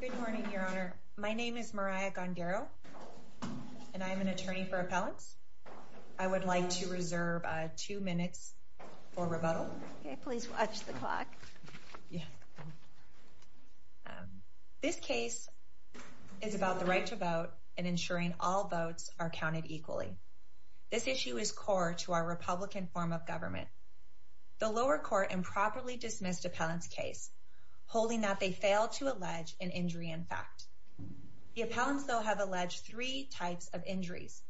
Good morning, Your Honor. My name is Mariah Gondaro, and I am an attorney for appellants. I would like to reserve two minutes for rebuttal. Please watch the clock. This case is about the right to vote and ensuring all votes are counted equally. This issue is core to our Republican form of government. The lower court improperly dismissed appellant's case, holding that they failed to allege an injury in fact. The appellants, though, have alleged three types of injuries,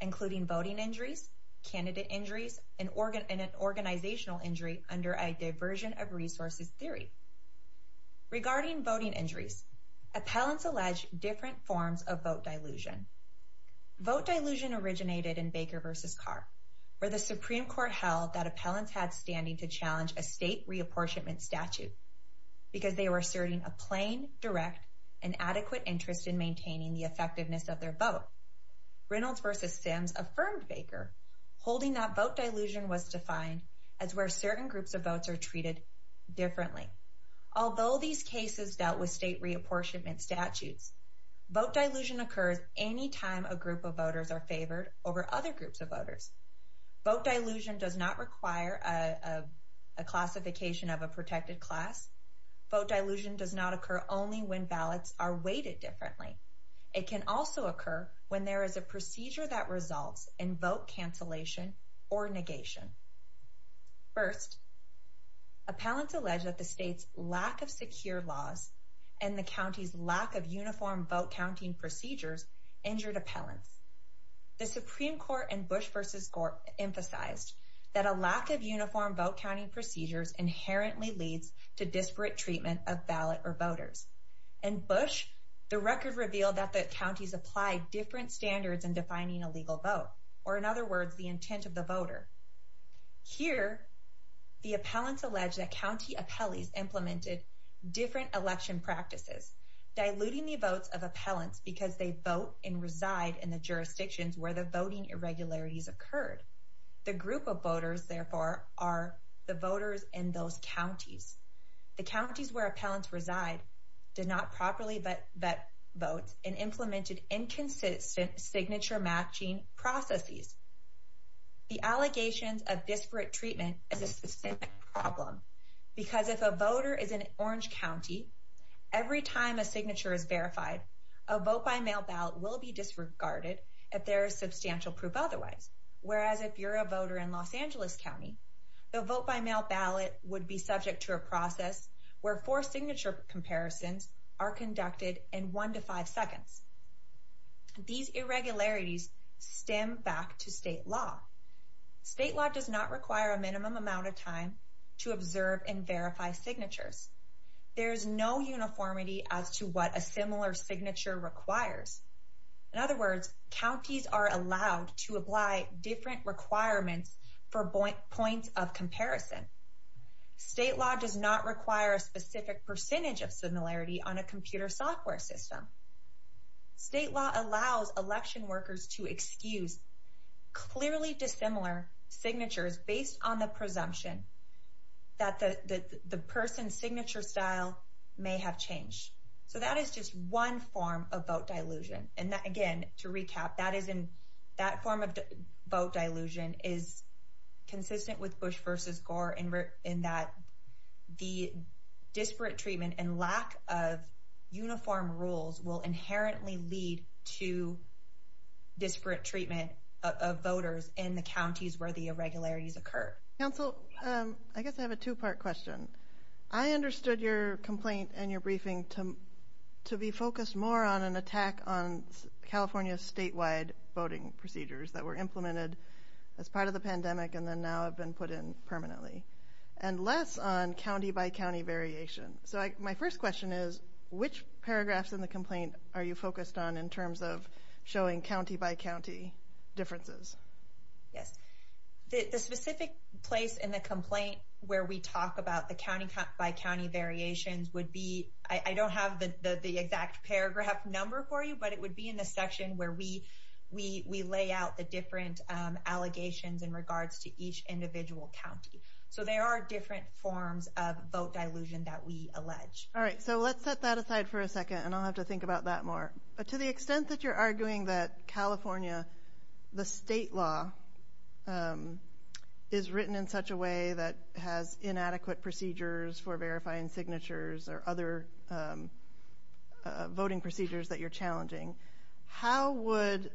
including voting injuries, candidate injuries, and an organizational injury under a diversion of resources theory. Regarding voting injuries, appellants allege different forms of vote dilution. Vote dilution originated in Baker v. Carr, where the Supreme Court held that appellants had standing to challenge a state reapportionment statute because they were asserting a plain, direct, and adequate interest in maintaining the effectiveness of their vote. Reynolds v. Sims affirmed Baker, holding that vote dilution was defined as where certain groups of votes are treated differently. Although these cases dealt with state reapportionment statutes, vote dilution occurs any time a group of voters are favored over other groups of voters. Vote dilution does not require a classification of a protected class. Vote dilution does not occur only when ballots are weighted differently. It can also occur when there is a procedure that results in vote cancellation or negation. First, appellants allege that the state's lack of secure laws and the county's lack of uniform vote-counting procedures injured appellants. The Supreme Court and Bush v. Gore emphasized that a lack of uniform vote-counting procedures inherently leads to disparate treatment of ballot or voters. In Bush, the record revealed that the counties applied different standards in defining a legal vote, or in other words, the intent of the voter. Here, the appellants including the votes of appellants because they vote and reside in the jurisdictions where the voting irregularities occurred. The group of voters, therefore, are the voters in those counties. The counties where appellants reside did not properly vet votes and implemented inconsistent signature-matching processes. The allegations of disparate treatment is a problem because if a voter is in Orange County, every time a signature is verified, a vote-by-mail ballot will be disregarded if there is substantial proof otherwise. Whereas if you're a voter in Los Angeles County, the vote-by-mail ballot would be subject to a process where four signature comparisons are conducted in one to five seconds. These irregularities stem back to state law. State law does not require a minimum amount of time to observe and verify signatures. There is no uniformity as to what a similar signature requires. In other words, counties are allowed to apply different requirements for points of comparison. State law does not require a specific percentage of similarity on a computer software system. State law allows election workers to excuse clearly dissimilar signatures based on the presumption that the person's signature style may have changed. So that is just one form of vote dilution. And again, to recap, that form of vote dilution is consistent with Bush Gore in that the disparate treatment and lack of uniform rules will inherently lead to disparate treatment of voters in the counties where the irregularities occur. Council, I guess I have a two-part question. I understood your complaint and your briefing to be focused more on an attack on California's statewide voting procedures that were implemented as part of the pandemic and then now have been put in permanently, and less on county-by-county variation. So my first question is, which paragraphs in the complaint are you focused on in terms of showing county-by-county differences? Yes. The specific place in the complaint where we talk about the county-by-county variations would be, I don't have the exact paragraph number for you, but it would be in the section where we lay out the different allegations in regards to each individual county. So there are different forms of vote dilution that we allege. All right. So let's set that aside for a second, and I'll have to think about that more. To the extent that you're arguing that California, the state law, is written in such a way that has inadequate procedures for verifying signatures or other voting procedures that you're challenging, how would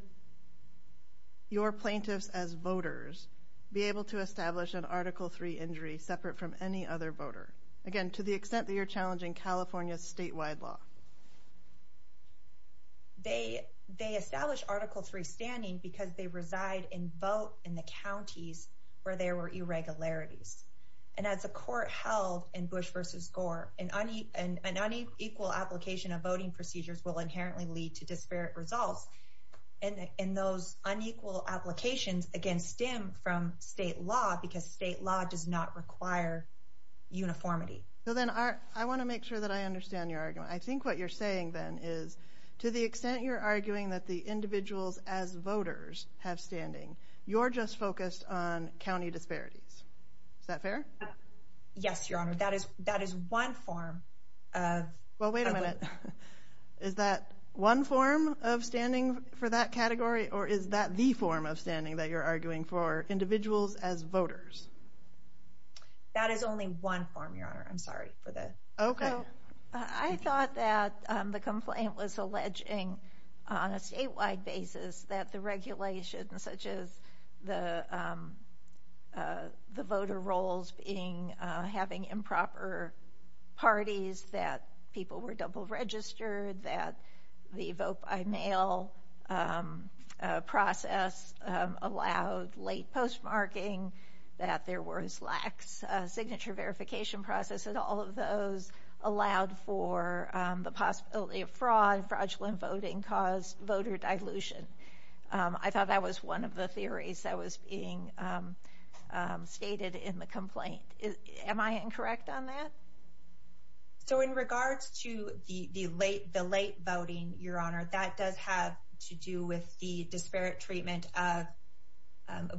your plaintiffs as voters be able to establish an Article III injury separate from any other voter? Again, to the extent that you're challenging California's statewide law. They establish Article III standing because they reside in vote in the counties where there were irregularities. And as a court held in Bush versus voting procedures will inherently lead to disparate results. And those unequal applications, again, stem from state law because state law does not require uniformity. So then I want to make sure that I understand your argument. I think what you're saying then is, to the extent you're arguing that the individuals as voters have standing, you're just focused on county disparities. Is that fair? Yes, Your Honor. That is one form of... Well, wait a minute. Is that one form of standing for that category, or is that the form of standing that you're arguing for, individuals as voters? That is only one form, Your Honor. I'm sorry for that. Okay. I thought that the complaint was alleging on a statewide basis that the regulations such as the voter rolls having improper parties, that people were double registered, that the vote by mail process allowed late postmarking, that there was lax signature verification process, that all of those allowed for the possibility of fraud, fraudulent voting caused voter dilution. I thought that was one of the theories that was being stated in the complaint. Am I incorrect on that? So in regards to the late voting, Your Honor, that does have to do with the disparate treatment of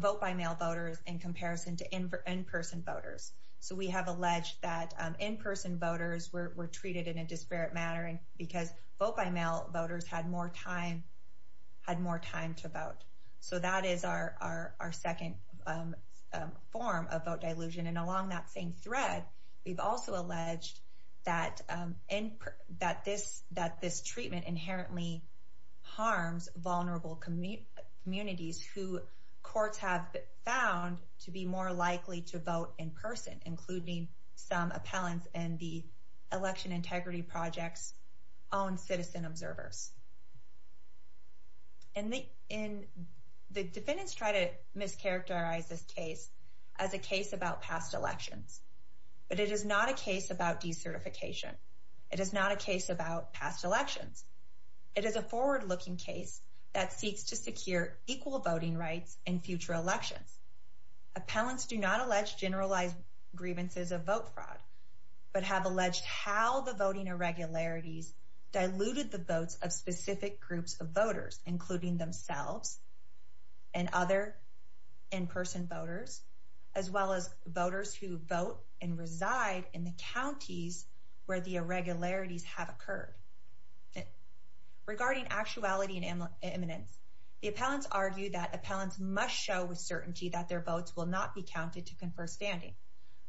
vote by mail voters in comparison to in-person voters. So we have alleged that in-person voters were treated in a disparate manner because vote by mail voters had more time to vote. That is our second form of vote dilution. Along that same thread, we've also alleged that this treatment inherently harms vulnerable communities who courts have found to be more likely to vote in person, including some appellants in the Election Integrity Project's own citizen observers. And the defendants try to mischaracterize this case as a case about past elections, but it is not a case about decertification. It is not a case about past elections. It is a forward-looking case that seeks to secure equal voting rights in future elections. Appellants do not allege generalized grievances of vote fraud, but have alleged how the voting irregularities diluted the votes of specific groups of voters, including themselves and other in-person voters, as well as voters who vote and reside in the counties where the irregularities have occurred. Regarding actuality and eminence, the appellants argue that appellants must show with certainty that their votes will not be counted to confer standing.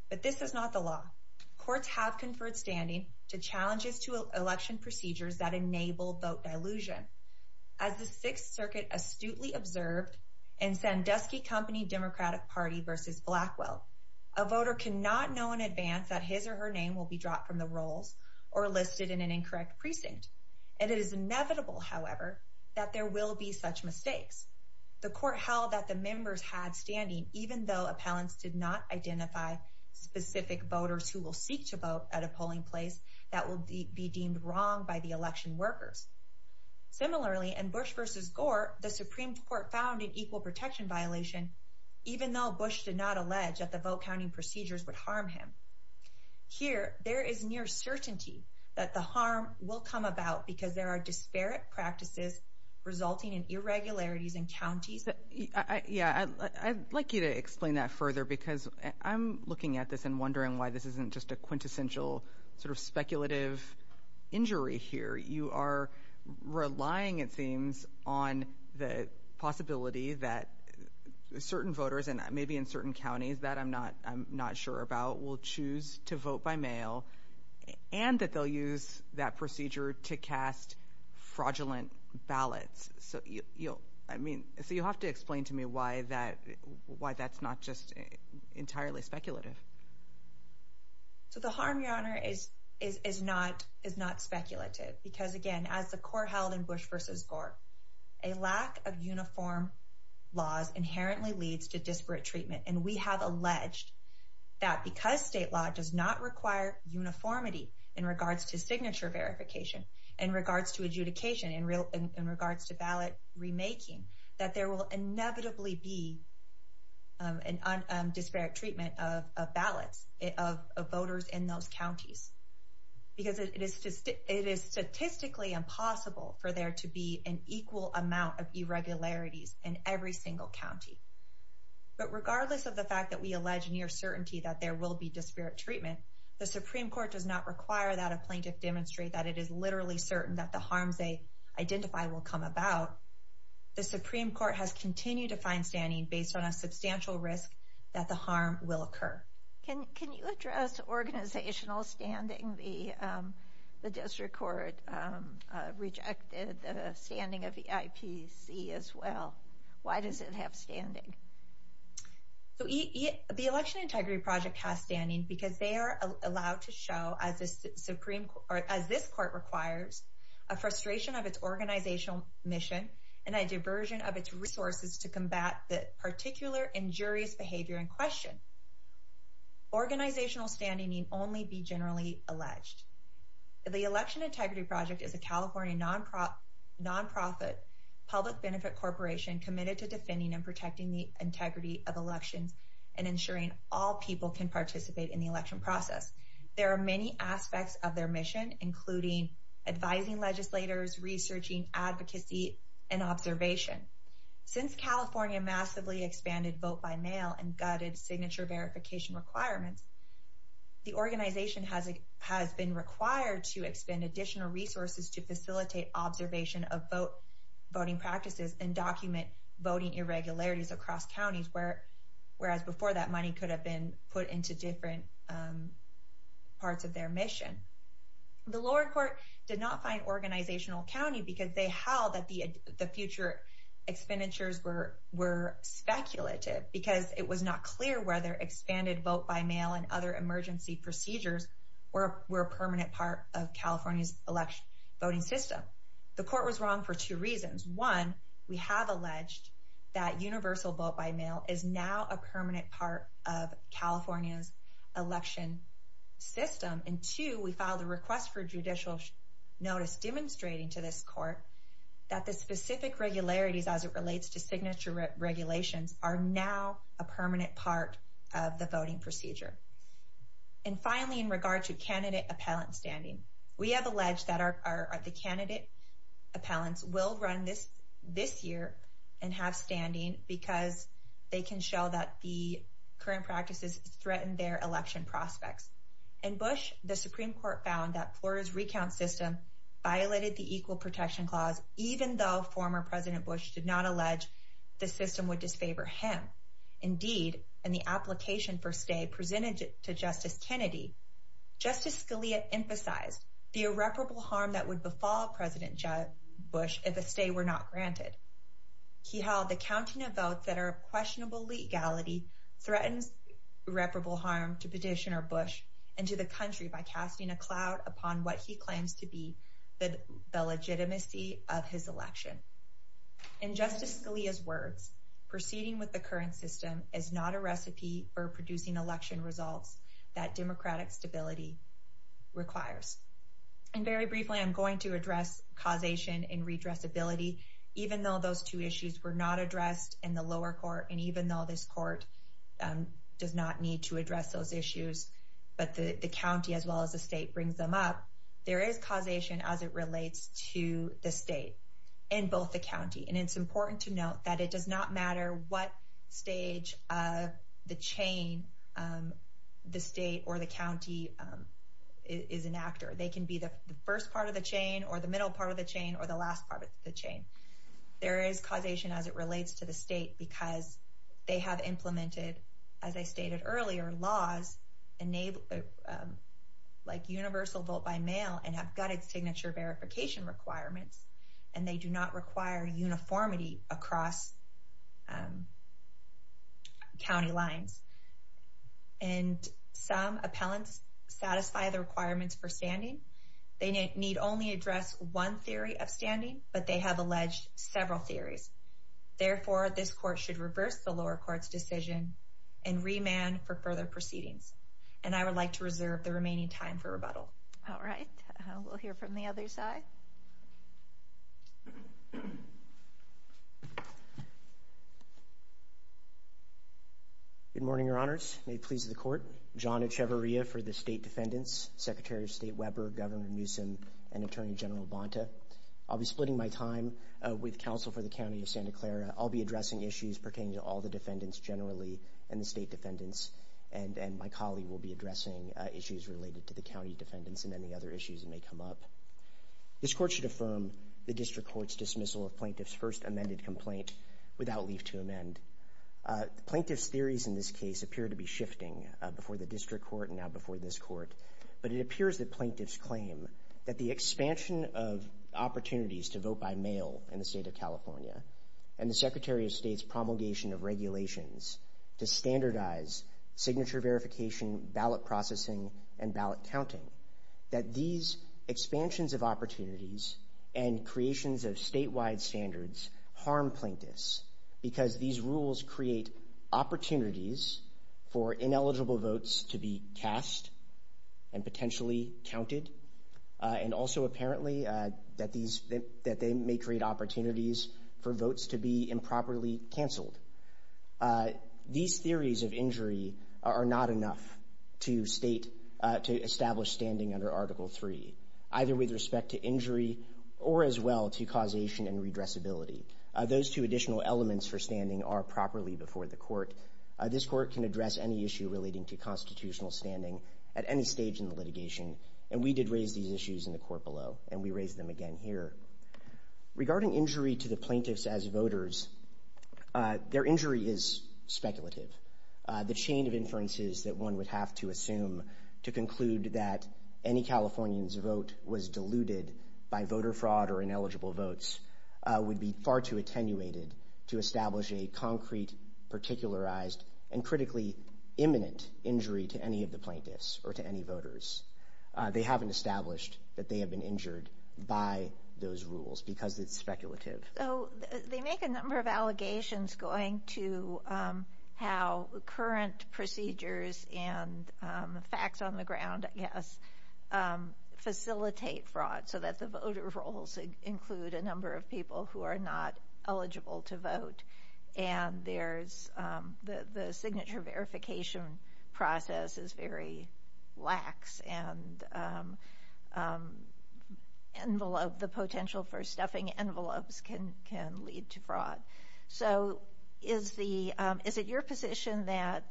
But this is not the law. Courts have conferred standing to challenges to election procedures that enable vote dilution. As the Sixth Circuit astutely observed in Sandusky Company Democratic Party v. Blackwell, a voter cannot know in advance that his or her name will be dropped from the rolls or listed in an incorrect precinct. It is inevitable, however, that there will be such mistakes. The court held that the members had standing, even though appellants did not identify specific voters who will seek to vote at a polling place that will be deemed wrong by the election workers. Similarly, in Bush v. Gore, the Supreme Court found an equal protection violation, even though Bush did not allege that the vote counting procedures would harm him. Here, there is near certainty that the harm will come about because there are disparate practices resulting in irregularities in counties. Yeah, I'd like you to explain that further, because I'm looking at this and wondering why this isn't just a quintessential sort of speculative injury here. You are relying, it seems, on the possibility that certain voters, and maybe in certain counties that I'm not sure about, will choose to vote by mail, and that they'll use that procedure to cast fraudulent ballots. So you'll have to explain to me why that's not just entirely speculative. So the harm, Your Honor, is not speculative, because again, as the court held in Bush v. Gore, a lack of uniform laws inherently leads to disparate treatment. And we have alleged that because state law does not require uniformity in regards to signature verification, in regards to adjudication, in regards to ballot remaking, that there will inevitably be a disparate treatment of ballots of voters in those counties. Because it is statistically impossible for there to be an equal amount of irregularities in every single county. But regardless of the fact that we allege near certainty that there will be disparate treatment, the Supreme Court does not require that a plaintiff demonstrate that it is literally certain that the harms they identify will come about. The Supreme Court has continued to find standing based on a substantial risk that the harm will occur. Can you address organizational standing? The district court rejected the standing of the IPC as well. Why does it have standing? So the Election Integrity Project has standing because they are allowed to show, as this Supreme a frustration of its organizational mission and a diversion of its resources to combat the particular injurious behavior in question. Organizational standing need only be generally alleged. The Election Integrity Project is a California non-profit public benefit corporation committed to defending and protecting the integrity of elections and ensuring all people can participate in the election process. There are many aspects of their mission including advising legislators, researching advocacy and observation. Since California massively expanded vote by mail and gutted signature verification requirements, the organization has been required to expend additional resources to facilitate observation of voting practices and document voting irregularities across counties, whereas before that money could have been put into different parts of their mission. The lower court did not find organizational county because they held that the future expenditures were speculative because it was not clear whether expanded vote by mail and other emergency procedures were a permanent part of California's election voting system. The court was wrong for two reasons. One, we have alleged that universal vote by mail is now a permanent part of California's election system. And two, we filed a request for judicial notice demonstrating to this court that the specific regularities as it relates to signature regulations are now a permanent part of the voting procedure. And finally, in regard to candidate appellate standing, we have alleged that the candidate appellants will run this year and have standing because they can show that the current practices threaten their election prospects. In Bush, the Supreme Court found that Florida's recount system violated the Equal Protection Clause even though former President Bush did not allege the system would disfavor him. Indeed, in the application for stay presented to Justice Kennedy, Justice Scalia emphasized the irreparable harm that would befall President Bush if a stay were not granted. He held the counting of votes that are questionable legality threatens irreparable harm to Petitioner Bush and to the country by casting a cloud upon what he claims to be the legitimacy of his election. In Justice Scalia's words, proceeding with the election results that democratic stability requires. And very briefly, I'm going to address causation and redressability. Even though those two issues were not addressed in the lower court, and even though this court does not need to address those issues, but the county as well as the state brings them up, there is causation as it relates to the state and both the county. It's important to note that it does not matter what stage of the chain the state or the county is an actor. They can be the first part of the chain or the middle part of the chain or the last part of the chain. There is causation as it relates to the state because they have implemented, as I stated earlier, laws like universal vote by mail and have gutted signature verification requirements. And they do not require uniformity across county lines. And some appellants satisfy the requirements for standing. They need only address one theory of standing, but they have alleged several theories. Therefore, this court should reverse the lower court's decision and remand for further proceedings. And I would like to reserve the remaining time for rebuttal. All right. We'll hear from the other side. Good morning, Your Honors. May it please the court. John Echevarria for the state defendants, Secretary of State Weber, Governor Newsom, and Attorney General Bonta. I'll be splitting my time with counsel for the County of Santa Clara. I'll be addressing issues pertaining to all the defendants generally and the state defendants, and my colleague will be addressing issues related to the county defendants and any other issues that may come up. This court should affirm the district court's dismissal of plaintiffs' first amended complaint without leave to amend. Plaintiffs' theories in this case appear to be shifting before the district court and now before this court. But it appears that plaintiffs claim that the expansion of opportunities to vote by mail in the state of California and the Secretary of State's promulgation of regulations to counting, that these expansions of opportunities and creations of statewide standards harm plaintiffs because these rules create opportunities for ineligible votes to be cast and potentially counted. And also, apparently, that they may create opportunities for votes to be improperly standing under Article III, either with respect to injury or as well to causation and redressibility. Those two additional elements for standing are properly before the court. This court can address any issue relating to constitutional standing at any stage in the litigation, and we did raise these issues in the court below, and we raise them again here. Regarding injury to the plaintiffs as voters, their injury is speculative. The chain of inferences that one would have to assume to conclude that any Californian's vote was diluted by voter fraud or ineligible votes would be far too attenuated to establish a concrete, particularized, and critically imminent injury to any of the plaintiffs or to any voters. They haven't established that they have been injured by those rules because it's speculative. So they make a number of allegations going to how current procedures and facts on the ground, I guess, facilitate fraud so that the voter rolls include a number of people who are not eligible to vote. And there's the signature verification process is very lax, and the potential for stuffing envelopes can lead to fraud. So is it your position that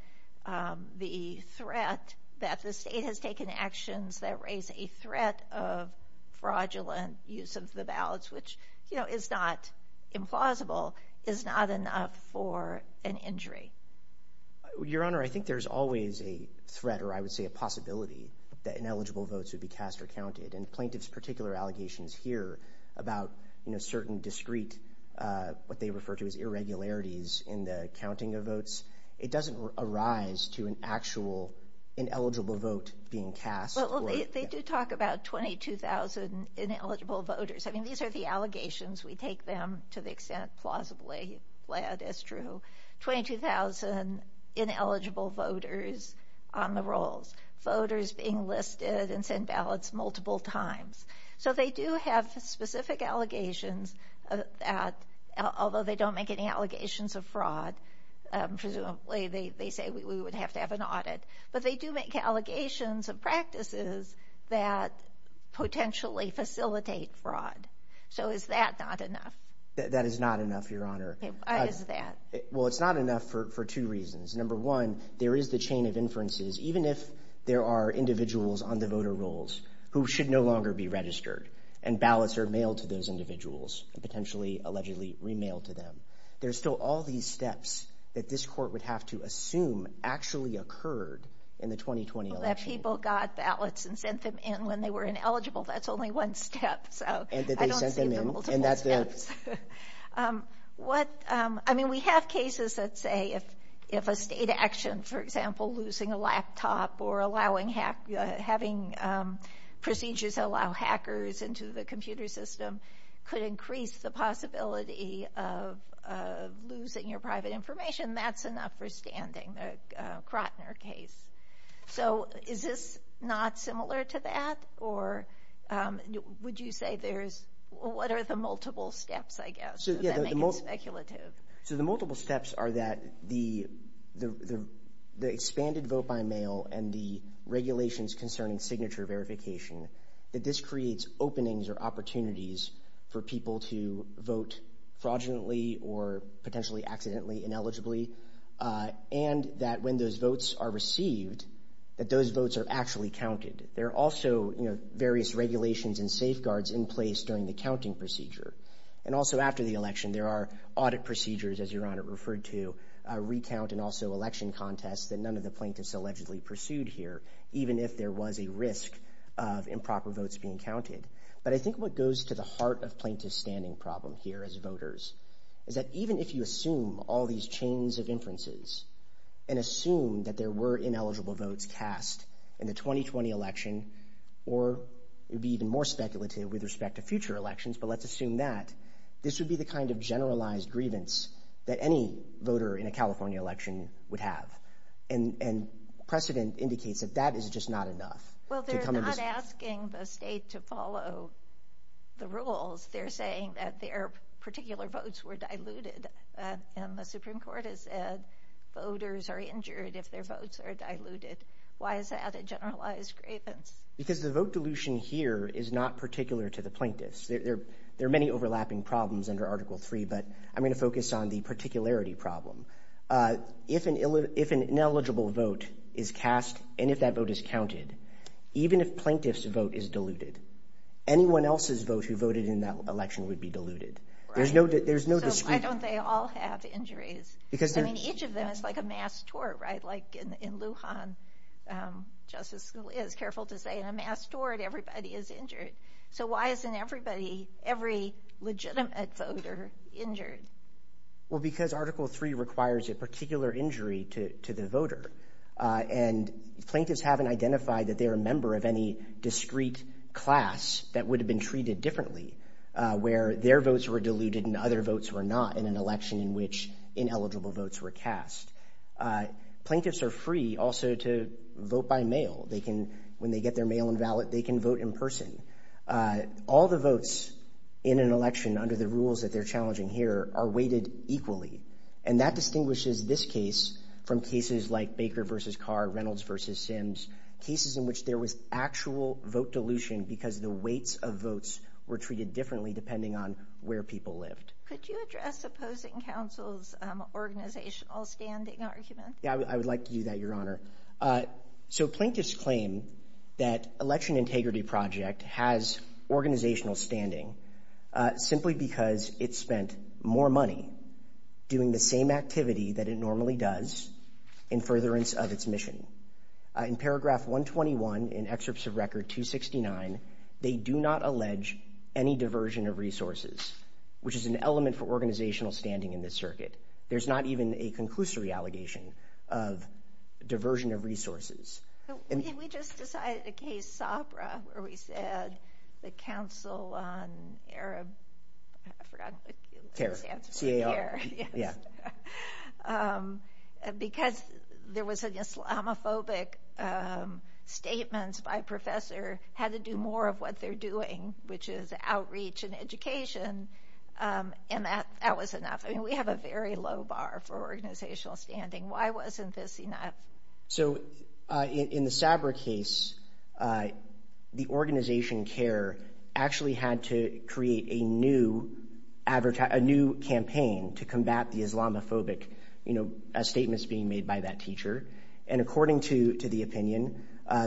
the threat that the state has taken actions that raise a threat of fraudulent use of the ballots, which is not implausible, is not enough for an injury? Your Honor, I think there's always a threat, or I would say a possibility, that ineligible votes would be cast or counted. And plaintiffs' particular allegations here about, you know, certain discrete, what they refer to as irregularities in the counting of votes, it doesn't arise to an actual ineligible vote being cast. Well, they do talk about 22,000 ineligible voters. I mean, these are the allegations. We take them to the extent plausibly led as true. 22,000 ineligible voters on the rolls, voters being listed and sent ballots multiple times. So they do have specific allegations, although they don't make any allegations of fraud. Presumably, they say we would have to have an audit. But they do make allegations of practices that potentially facilitate fraud. So is that not enough? That is not enough, Your Honor. Why is that? Well, it's not enough for two reasons. Number one, there is the chain of inferences. Even if there are individuals on the voter rolls who should no longer be registered, and ballots are mailed to those individuals, and potentially, allegedly, remailed to them, there's still all these steps that this Court would have to assume actually occurred in the 2020 election. That people got ballots and sent them in when they were ineligible, that's only one step. And that they sent them in. I don't see the multiple steps. I mean, we have cases that say if a state action, for example, losing a laptop, or having procedures allow hackers into the computer system, could increase the possibility of losing your private information, that's enough for standing, the Krotner case. So is this not similar to that? Or would you say there's, what are the multiple steps, I guess, that make it speculative? So the multiple steps are that the expanded vote-by-mail and the regulations concerning signature verification, that this creates openings or opportunities for people to vote fraudulently, or potentially accidentally, ineligibly. And that when those votes are received, that those votes are actually counted. There are also various regulations and safeguards in place during the counting procedure. And also after the election, there are audit procedures, as Your Honor referred to, recount and also election contests that none of the plaintiffs allegedly pursued here, even if there was a risk of improper votes being counted. But I think what goes to the heart of plaintiff's standing problem here as voters, is that even if you assume all these chains of inferences, and assume that there were ineligible votes cast in the 2020 election, or it would be even more speculative with respect to future elections, but let's assume that, this would be the kind of generalized grievance that any voter in a California election would have. And precedent indicates that that is just not enough. Well, they're not asking the state to follow the rules. They're saying that their particular votes were diluted. And the Supreme Court has said voters are injured if their votes are diluted. Why is that a generalized grievance? Because the vote dilution here is not particular to the plaintiffs. There are many overlapping problems under Article III, but I'm going to focus on the particularity problem. If an ineligible vote is cast, and if that vote is counted, even if plaintiff's vote is diluted, anyone else's vote who voted in that election would be diluted. Right. There's no dispute. So why don't they all have injuries? Because there's... I mean, each of them is like a mass tort, right? In Lujan, Justice Scalia is careful to say, in a mass tort, everybody is injured. So why isn't everybody, every legitimate voter injured? Well, because Article III requires a particular injury to the voter. And plaintiffs haven't identified that they're a member of any discrete class that would have been treated differently, where their votes were diluted and other votes were not in an election in which ineligible votes were cast. Plaintiffs are free also to vote by mail. When they get their mail invalid, they can vote in person. All the votes in an election under the rules that they're challenging here are weighted equally. And that distinguishes this case from cases like Baker versus Carr, Reynolds versus Sims, cases in which there was actual vote dilution because the weights of votes were treated differently depending on where people lived. Could you address opposing counsel's organizational standing argument? Yeah, I would like to do that, Your Honor. So plaintiffs claim that Election Integrity Project has organizational standing simply because it spent more money doing the same activity that it normally does in furtherance of its mission. In paragraph 121 in excerpts of record 269, they do not allege any diversion of resources, which is an element for organizational standing in this circuit. There's not even a conclusory allegation of diversion of resources. We just decided a case, Sabra, where we said the Council on Arab... I forgot the answer. CAR, yeah. Because there was an Islamophobic statement by a professor had to do more of what they're doing, which is outreach and education. And that was enough. I mean, we have a very low bar for organizational standing. Why wasn't this enough? So in the Sabra case, the organization CARE actually had to create a new campaign to combat the Islamophobic statements being made by that teacher. And according to the opinion,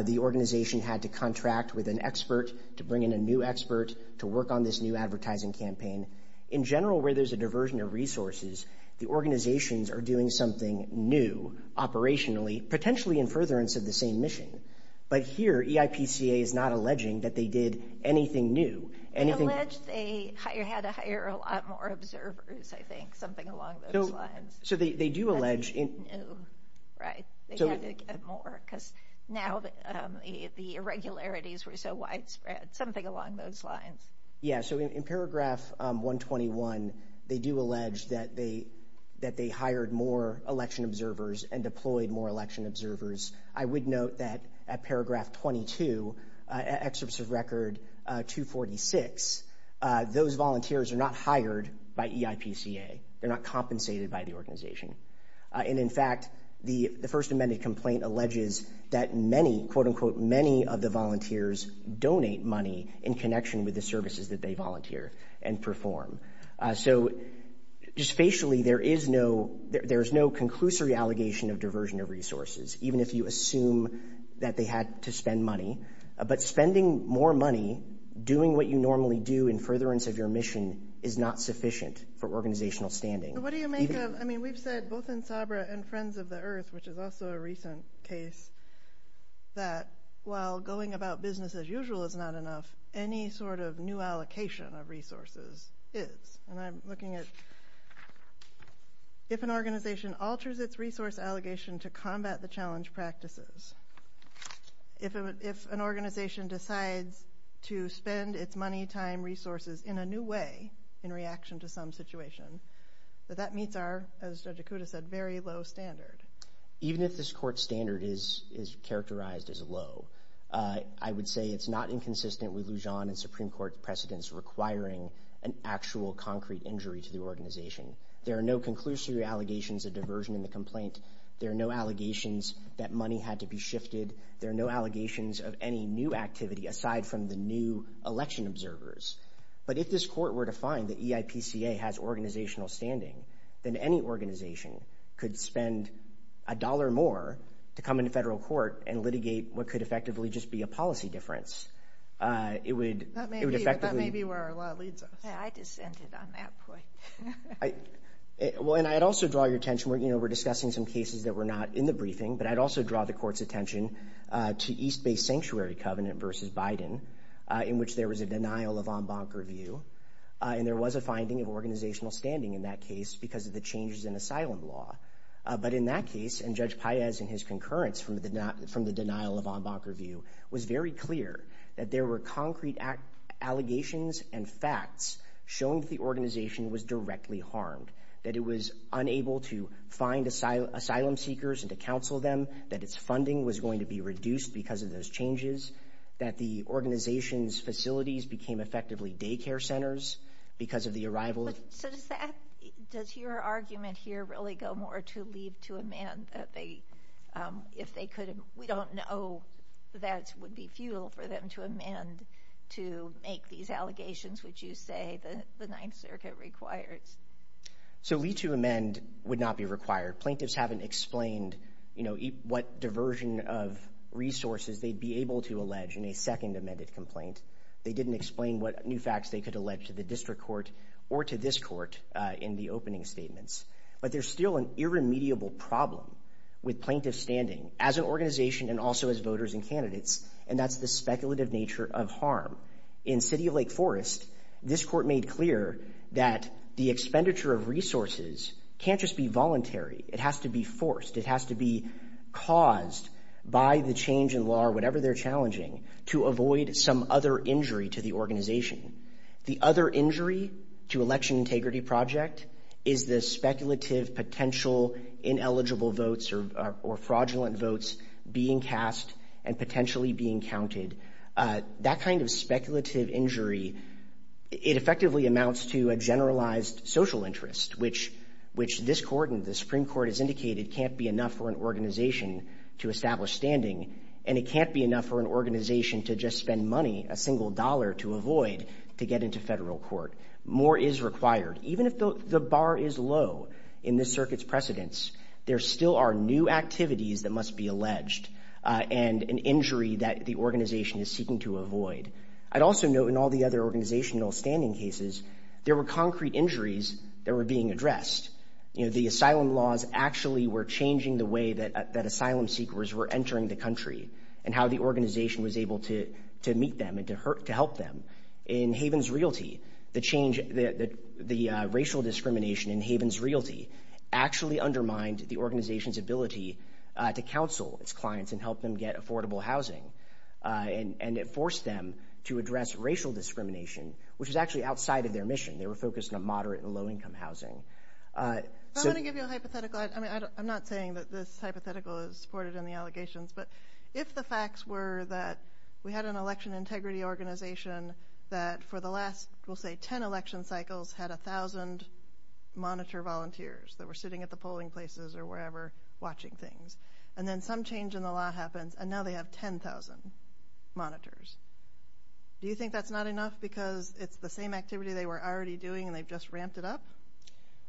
the organization had to contract with an expert to bring in a new expert to work on this new advertising campaign. In general, where there's a diversion of resources, the organizations are doing something new operationally, potentially in furtherance of the same mission. But here, EIPCA is not alleging that they did anything new. They allege they had to hire a lot more observers, I think. Something along those lines. So they do allege... Right. They had to get more because now the irregularities were so widespread. Something along those lines. Yeah. So in paragraph 121, they do allege that they hired more election observers and deployed more election observers. I would note that at paragraph 22, excerpts of record 246, those volunteers are not hired by EIPCA. They're not compensated by the organization. And in fact, the first amended complaint alleges that many, quote unquote, many of the volunteers donate money in connection with the services that they volunteer and perform. So just facially, there is no... There's no conclusory allegation of diversion of resources, even if you assume that they had to spend money. But spending more money, doing what you normally do in furtherance of your mission is not sufficient for organizational standing. What do you make of... I mean, we've said both in Sabra and Friends of the Earth, which is also a recent case, that while going about business as usual is not enough, any sort of new allocation of resources is. And I'm looking at... If an organization alters its resource allegation to combat the challenge practices, if an organization decides to spend its money, time, resources in a new way in reaction to some situation, that meets our, as Judge Okuda said, very low standard. Even if this court standard is characterized as low, I would say it's not inconsistent with Lujan and Supreme Court precedents requiring an actual concrete injury to the organization. There are no conclusory allegations of diversion in the complaint. There are no allegations that money had to be shifted. There are no allegations of any new activity aside from the new election observers. But if this court were to find that EIPCA has organizational standing, then any organization could spend a dollar more to come into federal court and litigate what could effectively just be a policy difference. It would effectively... That may be where our law leads us. Yeah, I just ended on that point. Well, and I'd also draw your attention... We're discussing some cases that were not in the briefing, but I'd also draw the court's attention to East Bay Sanctuary Covenant versus Biden, in which there was a denial of en banc review. And there was a finding of organizational standing in that case because of the changes in asylum law. But in that case, and Judge Paez and his concurrence from the denial of en banc review, was very clear that there were concrete allegations and facts showing that the organization was directly harmed, that it was unable to find asylum seekers and to counsel them, that its funding was going to be reduced because of those changes, that the organization's facilities became effectively daycare centers because of the arrival of... So does that... Does your argument here really go more to leave to amend that they... If they could... We don't know that would be futile for them to amend to make these allegations, which you say the Ninth Circuit requires. So leave to amend would not be required. Plaintiffs haven't explained what diversion of resources they'd be able to allege in a second amended complaint. They didn't explain what new facts they could allege to the district court or to this court in the opening statements. But there's still an irremediable problem with plaintiff standing as an organization and also as voters and candidates, and that's the speculative nature of harm. In City of Lake Forest, this court made clear that the expenditure of resources can't just be voluntary. It has to be forced. It has to be caused by the change in law or whatever they're challenging to avoid some other injury to the organization. The other injury to election integrity project is the speculative potential ineligible votes or fraudulent votes being cast and potentially being counted. That kind of speculative injury, it effectively amounts to a generalized social interest, which this court and the Supreme Court has indicated can't be enough for an organization to establish standing. And it can't be enough for an organization to just spend money, a single dollar to avoid to get into federal court. More is required. Even if the bar is low in this circuit's precedence, there still are new activities that must be alleged and an injury that the organization is seeking to avoid. I'd also note in all the other organizational standing cases, there were concrete injuries that were being addressed. The asylum laws actually were changing the way that asylum seekers were entering the country and how the organization was able to meet them and to help them. In Havens Realty, the change, the racial discrimination in Havens Realty actually undermined the organization's ability to counsel its clients and help them get affordable housing. And it forced them to address racial discrimination, which is actually outside of their mission. They were focused on moderate and low-income housing. I'm going to give you a hypothetical. I mean, I'm not saying that this hypothetical is supported in the allegations, but if the facts were that we had an election integrity organization that for the last, we'll say, 10 election cycles had 1,000 monitor volunteers that were sitting at the polling places or wherever watching things and then some change in the law happens and now they have 10,000 monitors. Do you think that's not enough? Because it's the same activity they were already doing and they've just ramped it up?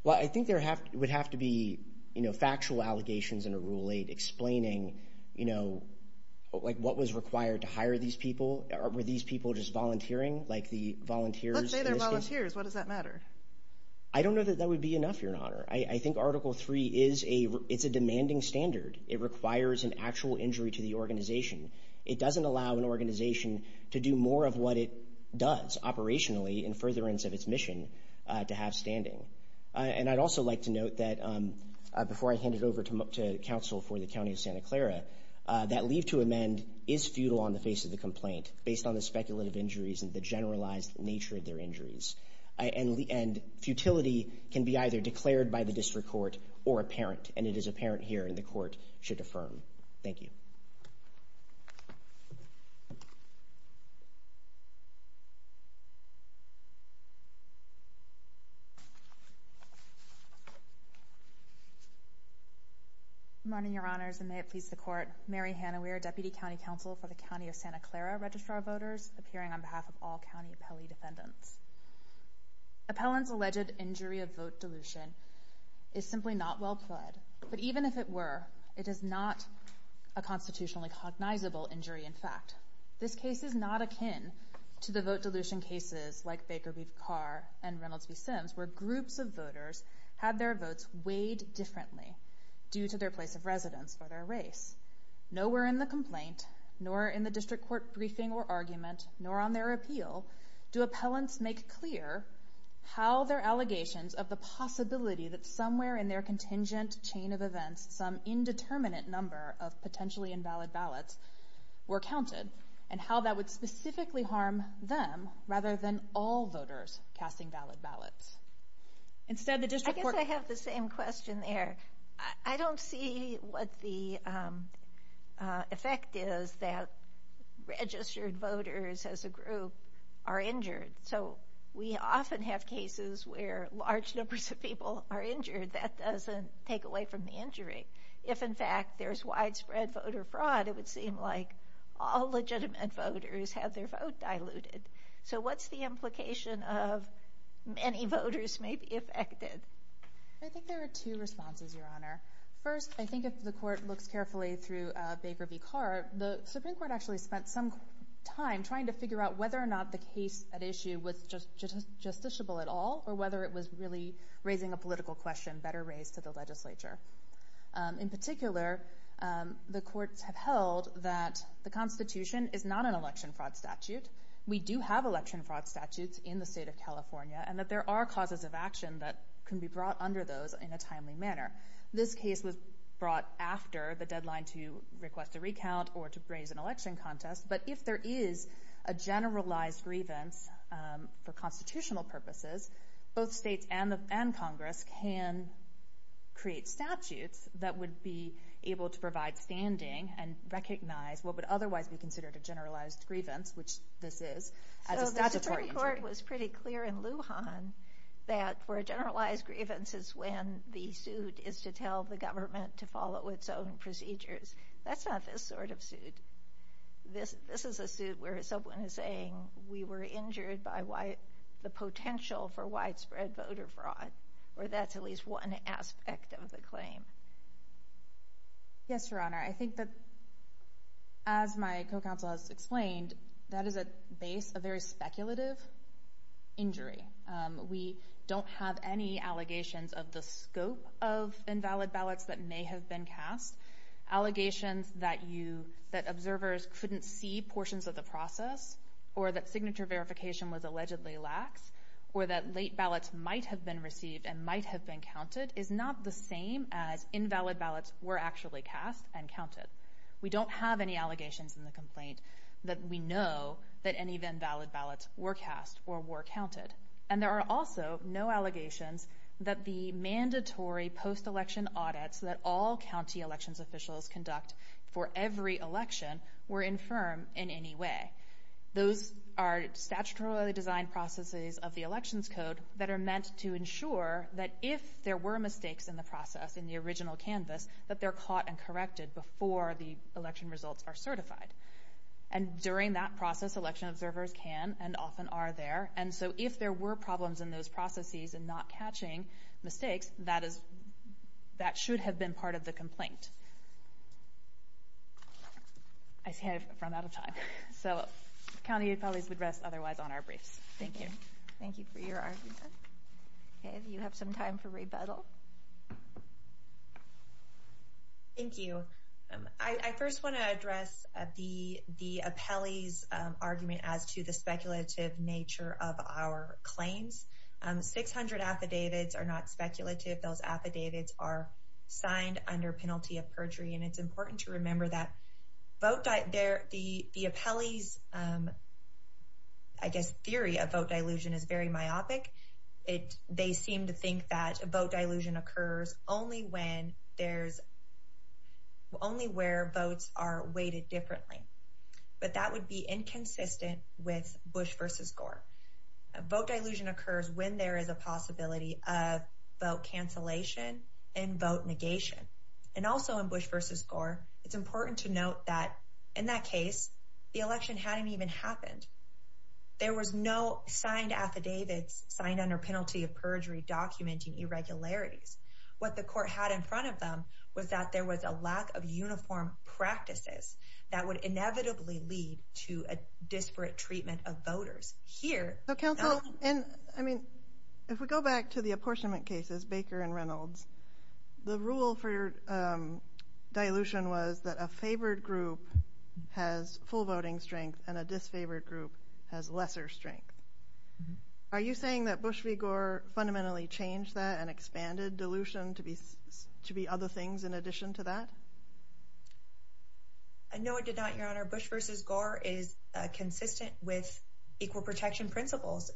Well, I think there have would have to be, you know, factual allegations in a Rule 8 explaining, you know, what was required to hire these people? Were these people just volunteering like the volunteers? Let's say they're volunteers. What does that matter? I don't know that that would be enough, Your Honor. I think Article 3 is a, it's a demanding standard. It requires an actual injury to the organization. It doesn't allow an organization to do more of what it does operationally in furtherance of its mission to have standing. And I'd also like to note that before I hand it over to counsel for the County of Santa Clara, that leave to amend is futile on the face of the complaint based on the speculative injuries and the generalized nature of their injuries. And futility can be either declared by the district court or apparent. And it is apparent here and the court should affirm. Thank you. Good morning, Your Honors, and may it please the court. Mary Hanna, we are Deputy County Counsel for the County of Santa Clara. Registrar voters appearing on behalf of all county appellee defendants. Appellant's alleged injury of vote dilution is simply not well pled. But even if it were, it is not a constitutionally cognizable injury, in fact. This case is not akin to the vote dilution cases like Baker v. Carr and Reynolds v. Sims, where groups of voters had their votes weighed differently due to their place of residence or their race. Nowhere in the complaint, nor in the district court briefing or argument, nor on their appeal, do appellants make clear how their allegations of the possibility that somewhere in their contingent chain of events, some indeterminate number of potentially invalid ballots were counted and how that would specifically harm them rather than all voters casting valid ballots. Instead, the district court- I guess I have the same question there. I don't see what the effect is that registered voters as a group are injured. So we often have cases where large numbers of people are injured. That doesn't take away from the injury. If, in fact, there's widespread voter fraud, it would seem like all legitimate voters have their vote diluted. So what's the implication of many voters may be affected? I think there are two responses, Your Honor. First, I think if the court looks carefully through Baker v. Carr, the Supreme Court actually spent some time trying to figure out whether or not the case at issue was just justiciable at all or whether it was really raising a political question, better raised to the legislature. In particular, the courts have held that the Constitution is not an election fraud statute. We do have election fraud statutes in the state of California and that there are causes of action that can be brought under those in a timely manner. This case was brought after the deadline to request a recount or to raise an election contest. But if there is a generalized grievance for constitutional purposes, both states and Congress can create statutes that would be able to provide standing and recognize what would otherwise be considered a generalized grievance, which this is. So the Supreme Court was pretty clear in Lujan that for a generalized grievance is when the suit is to tell the government to follow its own procedures. That's not this sort of suit. This is a suit where someone is saying we were injured by the potential for widespread voter fraud, or that's at least one aspect of the claim. Yes, Your Honor. I think that as my co-counsel has explained, that is at base a very speculative injury. We don't have any allegations of the scope of invalid ballots that may have been cast. Allegations that you, that observers couldn't see portions of the process or that signature verification was allegedly lax or that late ballots might have been received and might have been counted is not the same as invalid ballots were actually cast and counted. We don't have any allegations in the complaint that we know that any of the invalid ballots were cast or were counted. And there are also no allegations that the mandatory post-election audits that all county elections officials conduct for every election were infirm in any way. Those are statutorily designed processes of the elections code that are meant to ensure that if there were mistakes in the process, in the original canvas, that they're caught and corrected before the election results are certified. And during that process, election observers can and often are there. And so if there were problems in those processes and not catching mistakes, that is, that should have been part of the complaint. I see I've run out of time. So county authorities would rest otherwise on our briefs. Thank you. Thank you for your argument. Okay, do you have some time for rebuttal? Thank you. I first want to address the appellee's argument as to the speculative nature of our claims. 600 affidavits are not speculative. Those affidavits are signed under penalty of perjury. And it's important to remember that the appellee's, I guess, theory of vote dilution is very myopic. They seem to think that vote dilution occurs only when there's, only where votes are weighted differently. But that would be inconsistent with Bush versus Gore. Vote dilution occurs when there is a possibility of vote cancellation and vote negation. And also in Bush versus Gore, it's important to note that in that case, the election hadn't even happened. There was no signed affidavits signed under penalty of perjury documenting irregularities. What the court had in front of them was that there was a lack of uniform practices that would inevitably lead to a disparate treatment of voters. Here... I mean, if we go back to the apportionment cases, Baker and Reynolds, the rule for dilution was that a favored group has full voting strength and a disfavored group has lesser strength. Are you saying that Bush v. Gore fundamentally changed that and expanded dilution to be other things in addition to that? I know it did not, Your Honor. Bush v. Gore is consistent with equal protection principles.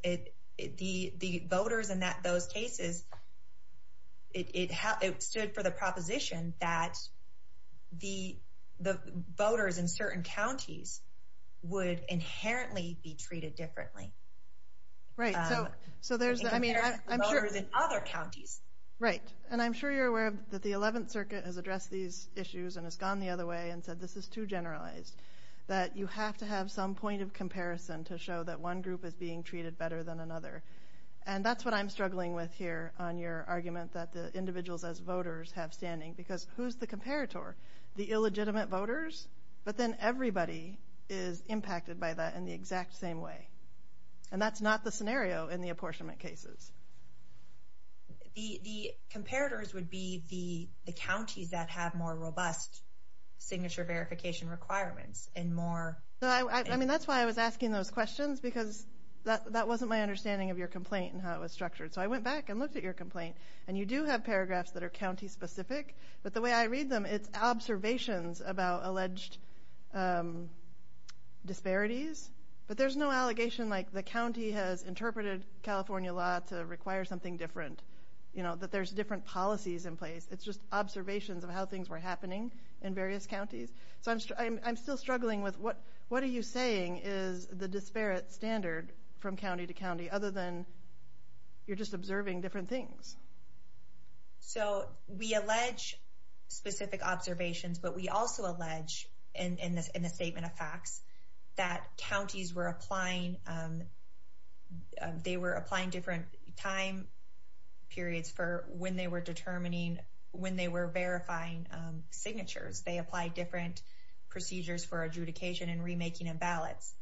The voters in those cases, it stood for the proposition that the voters in certain counties would inherently be treated differently. Right, so there's... Other counties. Right. And I'm sure you're aware that the 11th Circuit has addressed these issues and has gone the other way and said this is too generalized, that you have to have some point of comparison to show that one group is being treated better than another. And that's what I'm struggling with here on your argument that the individuals as voters have standing because who's the comparator? The illegitimate voters? But then everybody is impacted by that in the exact same way. And that's not the scenario in the apportionment cases. The comparators would be the counties that have more robust signature verification requirements and more... No, I mean, that's why I was asking those questions because that wasn't my understanding of your complaint and how it was structured. So I went back and looked at your complaint and you do have paragraphs that are county specific. But the way I read them, it's observations about alleged disparities. But there's no allegation like the county has interpreted California law to require something different, that there's different policies in place. It's just observations of how things were happening in various counties. So I'm still struggling with what are you saying is the disparate standard from county to county other than you're just observing different things? So we allege specific observations, but we also allege in the statement of facts that counties were applying... They were applying different time periods for when they were determining, when they were verifying signatures. They apply different procedures for adjudication and remaking of ballots.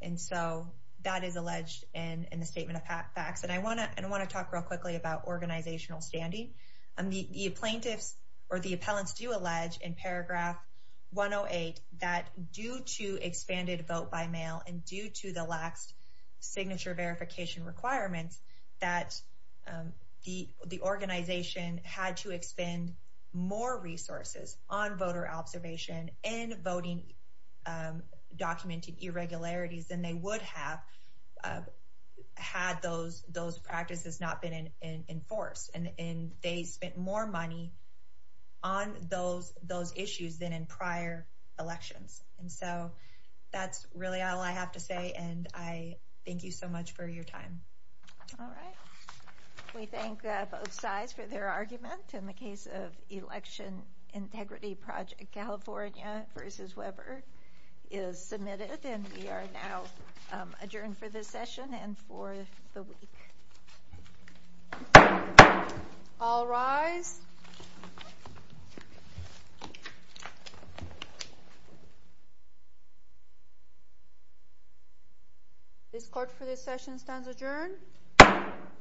And so that is alleged in the statement of facts. And I wanna talk real quickly about organizational standing. And the plaintiffs or the appellants do allege in paragraph 108 that due to expanded vote by mail and due to the lax signature verification requirements, that the organization had to expend more resources on voter observation and voting documented irregularities than they would have had those practices not been enforced. And they spent more money on those issues than in prior elections. And so that's really all I have to say. And I thank you so much for your time. All right. We thank both sides for their argument in the case of Election Integrity Project, California versus Weber is submitted. And we are now adjourned for this session and for the week. All rise. This court for this session stands adjourned.